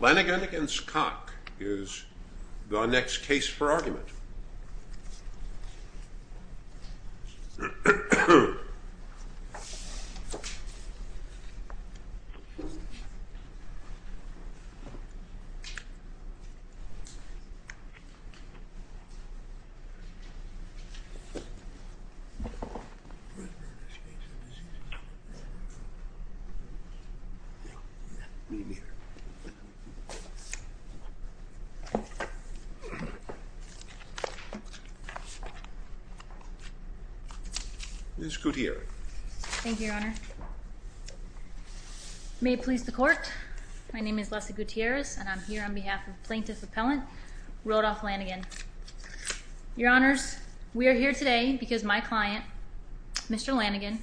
Lanaghan v. Koch is the next case for argument. We are here today because my client, Mr. Lanaghan,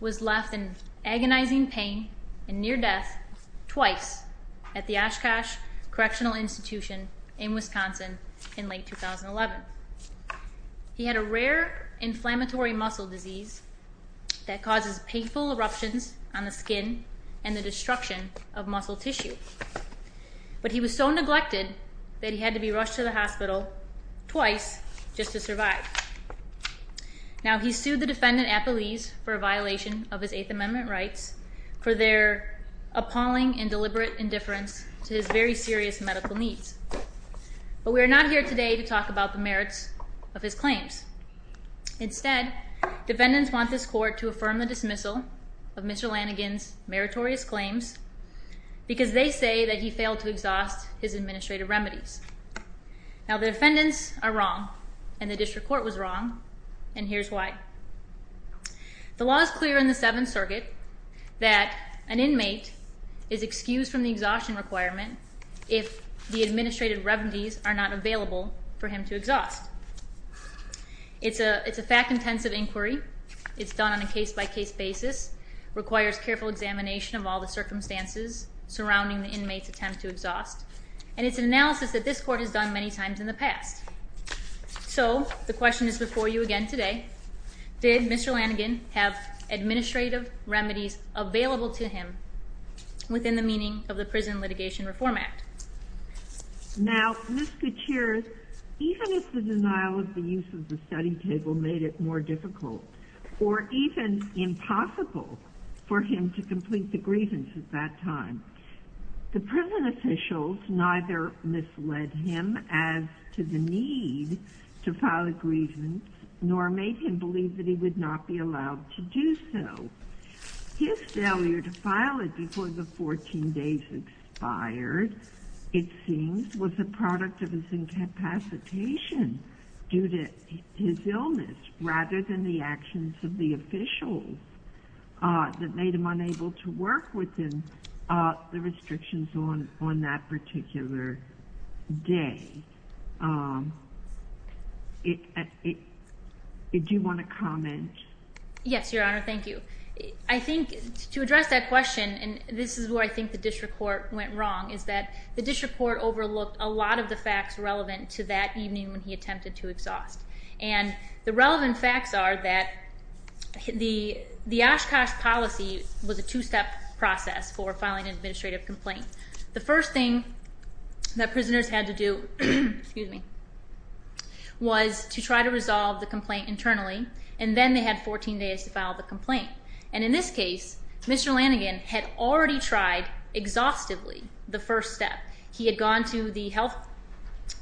was left in agonizing agony after he was hospitalized. He had a rare inflammatory muscle disease that causes painful eruptions on the skin and the destruction of muscle tissue. But he was so neglected that he had to be rushed to the hospital twice just to survive. Now, he sued the defendant at police for a violation of his Eighth Amendment rights for their appalling and deliberate indifference to his very serious medical needs. But we are not here today to talk about the merits of his claims. Instead, defendants want this court to affirm the dismissal of Mr. Lanaghan's meritorious claims because they say that he failed to exhaust his administrative remedies. Now, the defendants are wrong, and the district court was wrong, and here's why. The law is clear in the Seventh Circuit that an inmate is excused from the exhaustion requirement if the administrative remedies are not available for him to exhaust. It's a fact-intensive inquiry. It's done on a case-by-case basis, requires careful examination of all the circumstances surrounding the inmate's attempt to exhaust. And it's an analysis that this court has done many times in the past. So, the question is before you again today, did Mr. Lanaghan have administrative remedies available to him within the meaning of the Prison Litigation Reform Act? Now, Ms. Gutierrez, even if the denial of the use of the study table made it more difficult or even impossible for him to complete the grievance at that time, the prison officials neither misled him as to the need to file a grievance nor made him believe that he would not be allowed to do so. His failure to file it before the 14 days expired, it seems, was a product of his incapacitation due to his illness rather than the actions of the officials that made him unable to work with him during the restrictions on that particular day. Did you want to comment? Yes, Your Honor. Thank you. I think to address that question, and this is where I think the district court went wrong, is that the district court overlooked a lot of the facts relevant to that evening when he attempted to exhaust. And the relevant facts are that the Oshkosh policy was a two-step process for filing an administrative complaint. The first thing that prisoners had to do was to try to resolve the complaint internally, and then they had 14 days to file the complaint. And in this case, Mr. Lanaghan had already tried exhaustively the first step. He had gone to the health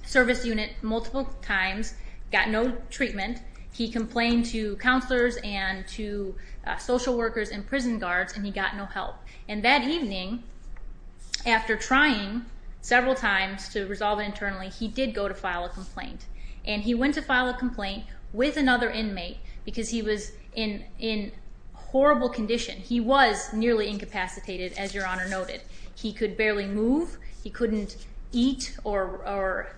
service unit multiple times, got no treatment. He complained to counselors and to social workers and prison guards, and he got no help. And that evening, after trying several times to resolve it internally, he did go to file a complaint. And he went to file a complaint with another inmate because he was in horrible condition. He was nearly incapacitated, as Your Honor noted. He could barely move. He couldn't eat or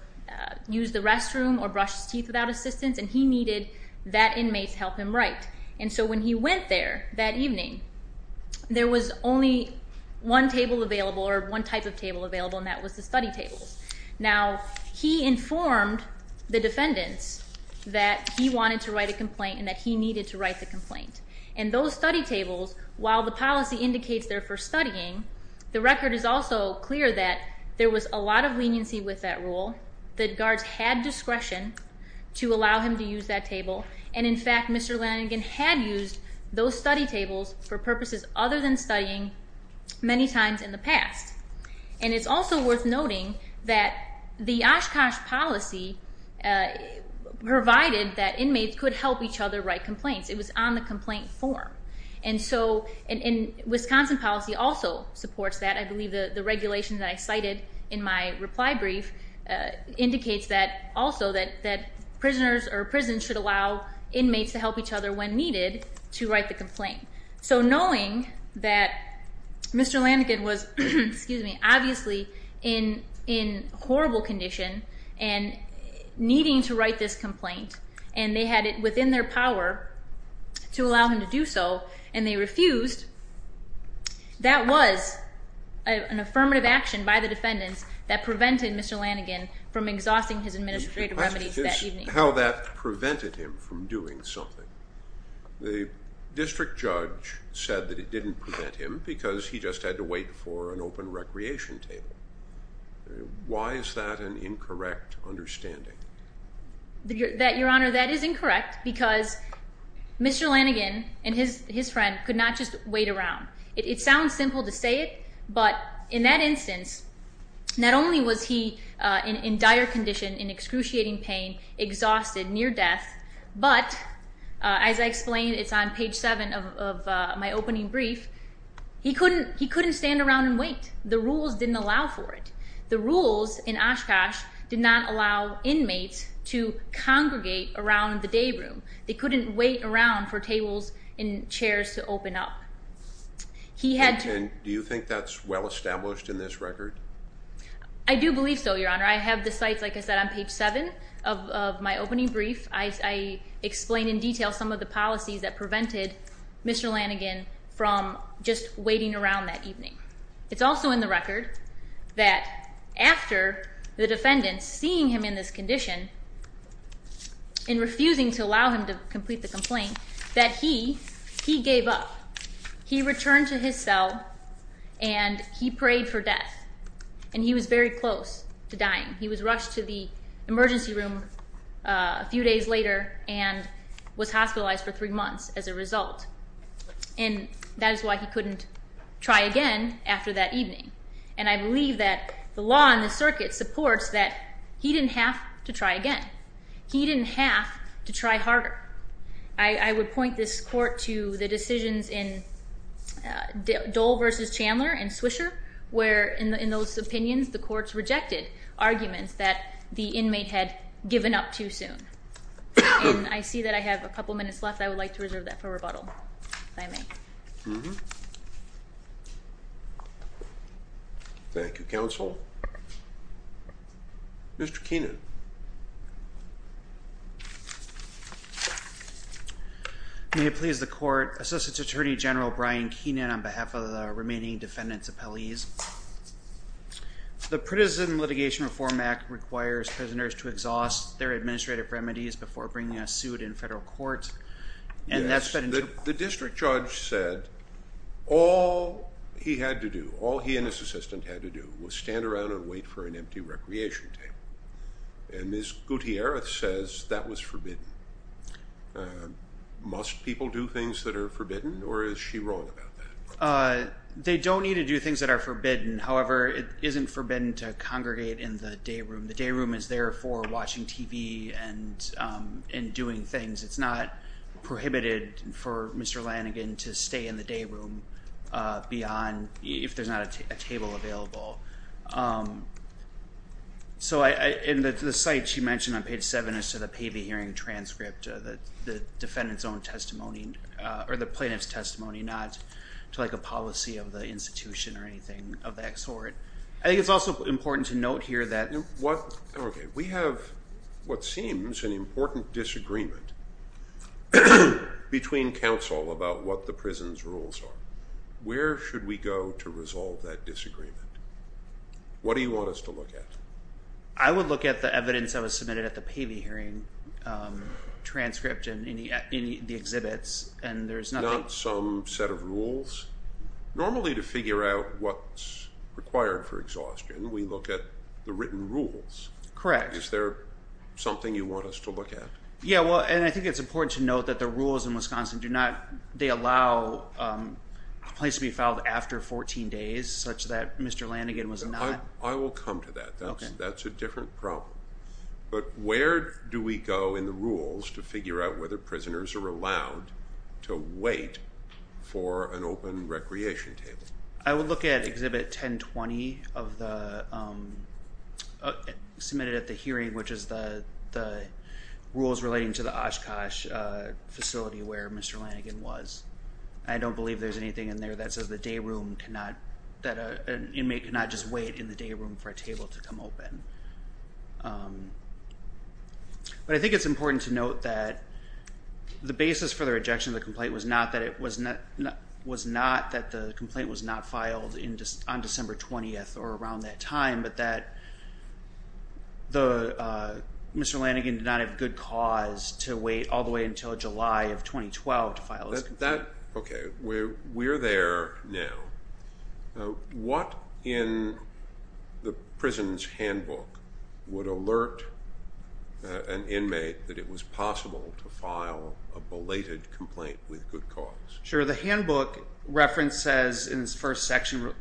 use the restroom or brush his teeth without assistance, and he needed that inmate's help him write. And so when he went there that evening, there was only one table available or one type of table available, and that was the study tables. Now, he informed the defendants that he wanted to write a complaint and that he needed to write the complaint. And those study tables, while the policy indicates they're for studying, the record is also clear that there was a lot of leniency with that rule, that guards had discretion to allow him to use that table, and in fact Mr. Lanaghan had used those study tables for purposes other than studying many times in the past. And it's also worth noting that the Oshkosh policy provided that inmates could help each other write complaints. It was on the complaint form. And so Wisconsin policy also supports that. I believe the regulation that I cited in my reply brief indicates that also that prisoners or prisons should allow inmates to help each other when needed to write the complaint. So knowing that Mr. Lanaghan was, excuse me, obviously in horrible condition and needing to write this complaint, and they had it within their power to allow him to do so, and they refused, that was an affirmative action by the defendants that prevented Mr. Lanaghan from exhausting his administrative remedies that evening. How that prevented him from doing something. The district judge said that it didn't prevent him because he just had to wait for an open recreation table. Why is that an incorrect understanding? Your Honor, that is incorrect because Mr. Lanaghan and his friend could not just wait around. It sounds simple to say it, but in that instance, not only was he in dire condition, in excruciating pain, exhausted, near death, but as I explained, it's on page 7 of my opening brief, he couldn't stand around and wait. The rules didn't allow for it. The rules in Oshkosh did not allow inmates to congregate around the day room. They couldn't wait around for tables and chairs to open up. Do you think that's well established in this record? I do believe so, Your Honor. I have the sites, like I said, on page 7 of my opening brief. I explain in detail some of the policies that prevented Mr. Lanaghan from just waiting around that evening. It's also in the record that after the defendant, seeing him in this condition and refusing to allow him to complete the complaint, that he gave up. He returned to his cell, and he prayed for death, and he was very close to dying. He was rushed to the emergency room a few days later and that is why he couldn't try again after that evening. I believe that the law and the circuit supports that he didn't have to try again. He didn't have to try harder. I would point this court to the decisions in Dole v. Chandler and Swisher where in those opinions the courts rejected arguments that the inmate had given up too soon. I see that I have a couple minutes left. I would like to reserve that for rebuttal, if I may. Thank you, counsel. Mr. Keenan. May it please the court. Associate Attorney General Brian Keenan on behalf of the remaining defendant's appellees. The Pritizen Litigation Reform Act requires prisoners to exhaust their administrative remedies before bringing a suit in federal court. The district judge said all he had to do, all he and his assistant had to do was stand around and wait for an empty recreation table. And Ms. Gutierrez says that was forbidden. Must people do things that are forbidden, or is she wrong about that? They don't need to do things that are forbidden. However, it isn't forbidden to congregate in the day room. The day room is there for watching TV and doing things. It's not prohibited for Mr. Lanigan to stay in the day room beyond, if there's not a table available. So in the site she mentioned on page 7 as to the pay-to-hearing transcript, the defendant's own testimony, or the plaintiff's testimony, not to like a policy of the institution or anything of that sort. I think it's also important to note here that. Okay, we have what seems an important disagreement between counsel about what the prison's rules are. Where should we go to resolve that disagreement? What do you want us to look at? I would look at the evidence that was submitted at the pay-to-hearing transcript and the exhibits, and there's nothing. Not some set of rules? Normally to figure out what's required for exhaustion, we look at the written rules. Correct. Is there something you want us to look at? Yeah, well, and I think it's important to note that the rules in Wisconsin do not allow a place to be filed after 14 days, such that Mr. Lanigan was not. I will come to that. That's a different problem. But where do we go in the rules to figure out whether prisoners are allowed to wait for an open recreation table? I would look at Exhibit 1020 submitted at the hearing, which is the rules relating to the Oshkosh facility where Mr. Lanigan was. I don't believe there's anything in there that says the day room cannot, that an inmate cannot just wait in the day room for a table to come open. But I think it's important to note that the basis for the rejection of the complaint was not that the complaint was not filed on December 20th or around that time, but that Mr. Lanigan did not have good cause to wait all the way until July of 2012 to file his complaint. We're there now. What in the prison's handbook would alert an inmate that it was possible to file a belated complaint with good cause? Sure. The handbook reference says in its first section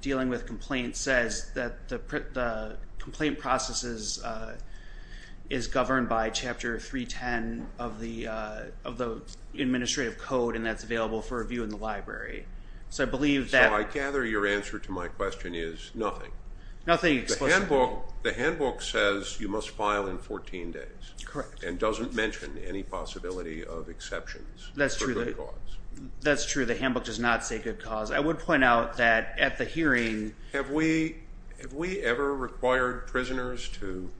dealing with complaints says that the complaint processes is governed by Chapter 310 of the Administrative Code, and that's available for review in the library. So I gather your answer to my question is nothing. Nothing explicitly. The handbook says you must file in 14 days. Correct. And doesn't mention any possibility of exceptions for good cause. That's true. The handbook does not say good cause. I would point out that at the hearing ---- Have we ever required prisoners to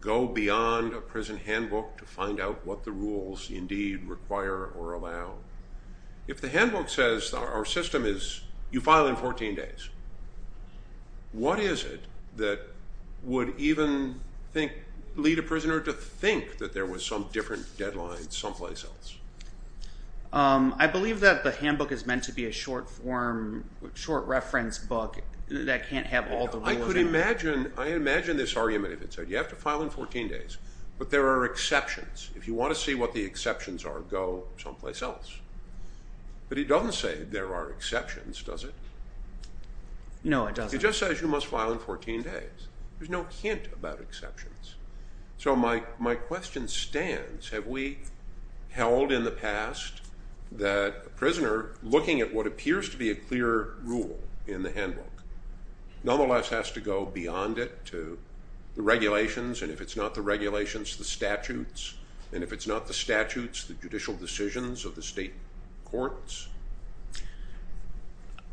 go beyond a prison handbook to find out what the rules indeed require or allow? If the handbook says our system is you file in 14 days, what is it that would even lead a prisoner to think that there was some different deadline someplace else? I believe that the handbook is meant to be a short form, short reference book that can't have all the rules. I could imagine this argument if it said you have to file in 14 days, but there are exceptions. If you want to see what the exceptions are, go someplace else. But it doesn't say there are exceptions, does it? No, it doesn't. It just says you must file in 14 days. There's no hint about exceptions. So my question stands. Have we held in the past that a prisoner, looking at what appears to be a clear rule in the handbook, nonetheless has to go beyond it to the regulations, and if it's not the regulations, the statutes, and if it's not the statutes, the judicial decisions of the state courts?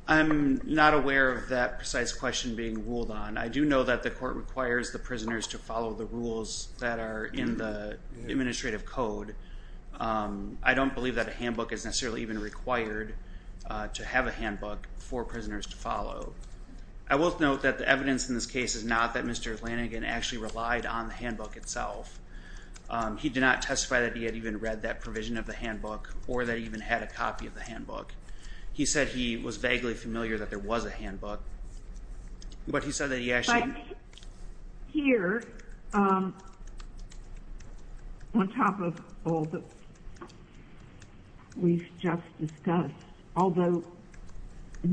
I'm not aware of that precise question being ruled on. I do know that the court requires the prisoners to follow the rules that are in the administrative code. I don't believe that a handbook is necessarily even required to have a handbook for prisoners to follow. I will note that the evidence in this case is not that Mr. Kline had read the provision on the handbook itself. He did not testify that he had even read that provision of the handbook or that he even had a copy of the handbook. He said he was vaguely familiar that there was a handbook. But he said that he actually ---- But here, on top of all that we've just discussed, although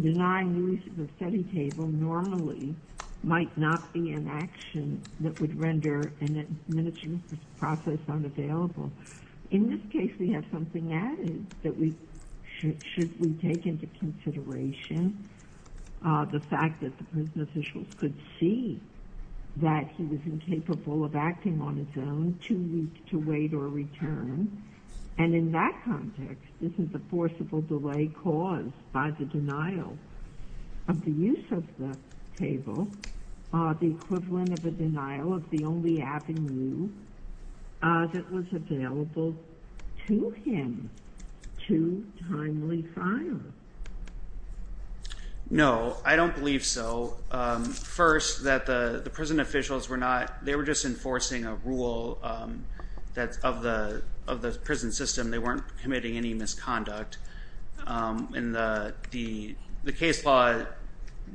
denying the use of a study table normally might not be an action that would render an administrative process unavailable. In this case, we have something added that we should take into consideration the fact that the prison officials could see that he was incapable of acting on his own, too weak to wait or return. And in that context, this is a forcible delay caused by the denial of the use of the table, the equivalent of a denial of the only avenue that was available to him to timely fire. No, I don't believe so. First, that the prison officials were not ---- they were just enforcing a rule of the prison system. They weren't committing any misconduct. And the case law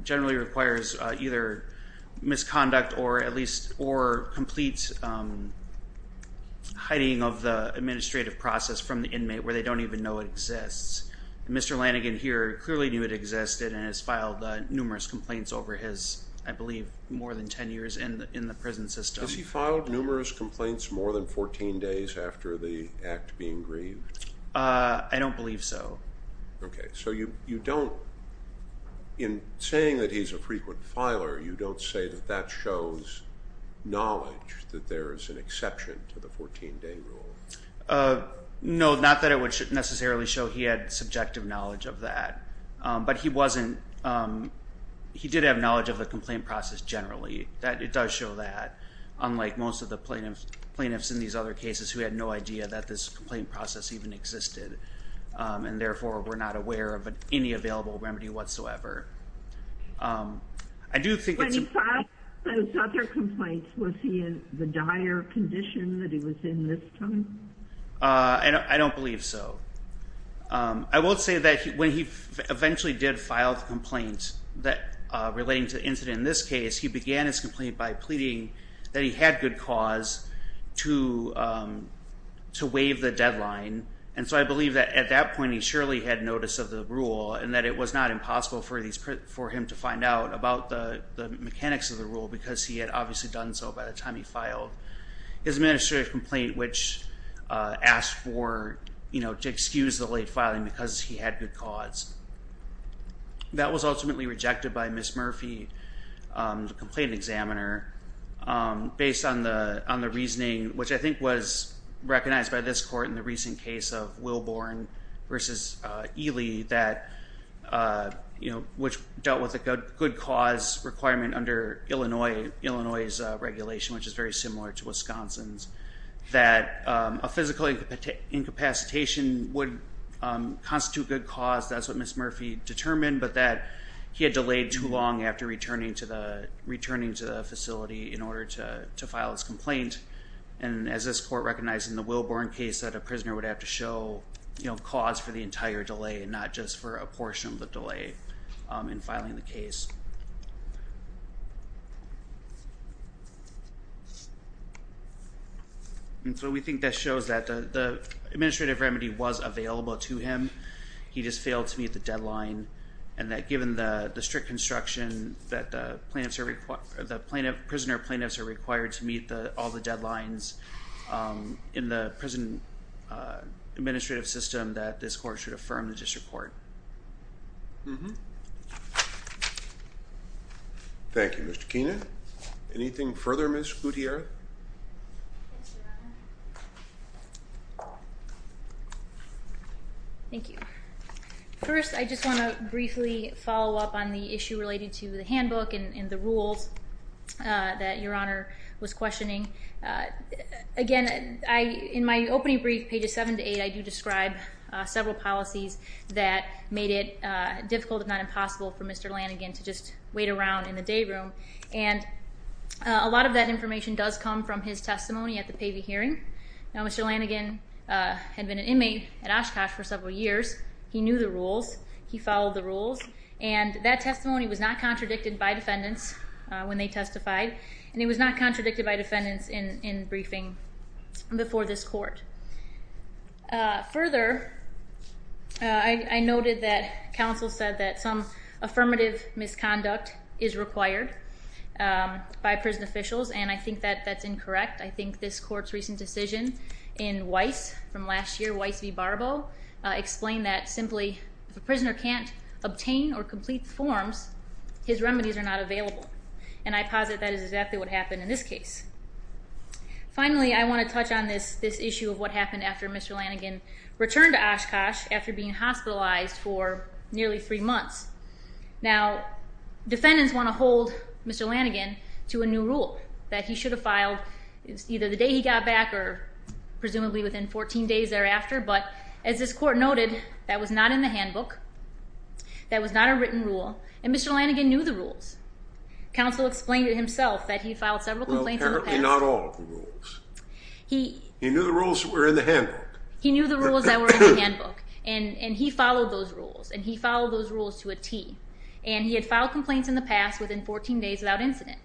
generally requires either misconduct or at least complete hiding of the administrative process from the inmate where they don't even know it exists. Mr. Lanigan here clearly knew it existed and has filed numerous complaints over his, I believe, more than ten years in the prison system. Has he filed numerous complaints more than 14 days after the act being grieved? I don't believe so. Okay. So you don't ---- in saying that he's a frequent filer, you don't say that that shows knowledge that there is an exception to the 14-day rule? No, not that it would necessarily show he had subjective knowledge of that. But he wasn't ---- he did have knowledge of the complaint process generally. It does show that, unlike most of the plaintiffs in these other cases who had no idea that this complaint process even existed and therefore were not aware of any available remedy whatsoever. I do think it's a ---- When he filed those other complaints, was he in the dire condition that he was in this time? I don't believe so. I will say that when he eventually did file the complaint relating to the incident in this case, he began his complaint by pleading that he had good cause to waive the deadline. And so I believe that at that point he surely had notice of the rule and that it was not impossible for him to find out about the mechanics of the rule because he had obviously done so by the time he filed his administrative complaint, which asked for, you know, to excuse the late filing because he had good cause. That was ultimately rejected by Ms. Murphy, the complaint examiner, based on the reasoning which I think was recognized by this court in the recent case of Wilborn v. Ely that, you know, which dealt with a good cause requirement under Illinois' regulation, which is very similar to Wisconsin's, that a physical incapacitation would constitute good cause. That's what Ms. Murphy determined, but that he had delayed too long after returning to the facility in order to file his complaint. And as this court recognized in the Wilborn case that a prisoner would have to show, you know, cause for the entire delay and not just for a portion of the delay in filing the case. And so we think that shows that the administrative remedy was available to him. He just failed to meet the deadline, and that given the strict construction that the prisoner plaintiffs are required to meet all the deadlines in the prison administrative system, that this court should affirm the district court. Thank you, Mr. Keenan. Anything further, Ms. Gutierrez? Yes, Your Honor. Thank you. First, I just want to briefly follow up on the issue related to the handbook and the rules that Your Honor was questioning. Again, in my opening brief, pages seven to eight, I do describe several policies that made it difficult, if not impossible, for Mr. Lanigan to just wait around in the day room. And a lot of that information does come from his testimony at the Pavey hearing. Now, Mr. Lanigan had been an inmate at Oshkosh for several years. He knew the rules. He followed the rules. And that testimony was not contradicted by defendants when they testified, and it was not contradicted by defendants in briefing before this court. Further, I noted that counsel said that some affirmative misconduct is required by prison officials, and I think that that's incorrect. I think this court's recent decision in Weiss from last year, Weiss v. Barbo, explained that simply if a prisoner can't obtain or complete forms, his remedies are not available. And I posit that is exactly what happened in this case. Finally, I want to touch on this issue of what happened after Mr. Lanigan returned to Oshkosh after being hospitalized for nearly three months. Now, defendants want to hold Mr. Lanigan to a new rule that he should have filed either the day he got back or presumably within 14 days thereafter. But as this court noted, that was not in the handbook. That was not a written rule. And Mr. Lanigan knew the rules. Counsel explained it himself that he filed several complaints in the past. Well, apparently not all of the rules. He knew the rules that were in the handbook. He knew the rules that were in the handbook, and he followed those rules, and he followed those rules to a T. And he had filed complaints in the past within 14 days without incident.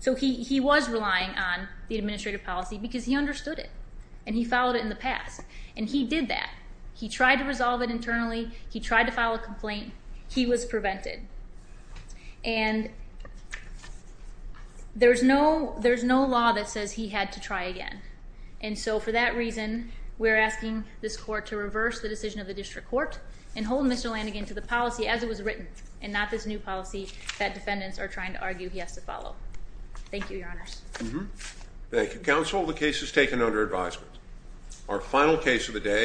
So he was relying on the administrative policy because he understood it, and he followed it in the past, and he did that. He tried to resolve it internally. He tried to file a complaint. He was prevented. And there's no law that says he had to try again. And so for that reason, we're asking this court to reverse the decision of the district court and hold Mr. Lanigan to the policy as it was written and not this new policy that defendants are trying to argue he has to follow. Thank you, Your Honors. Thank you, Counsel. The case is taken under advisement. Our final case of the day.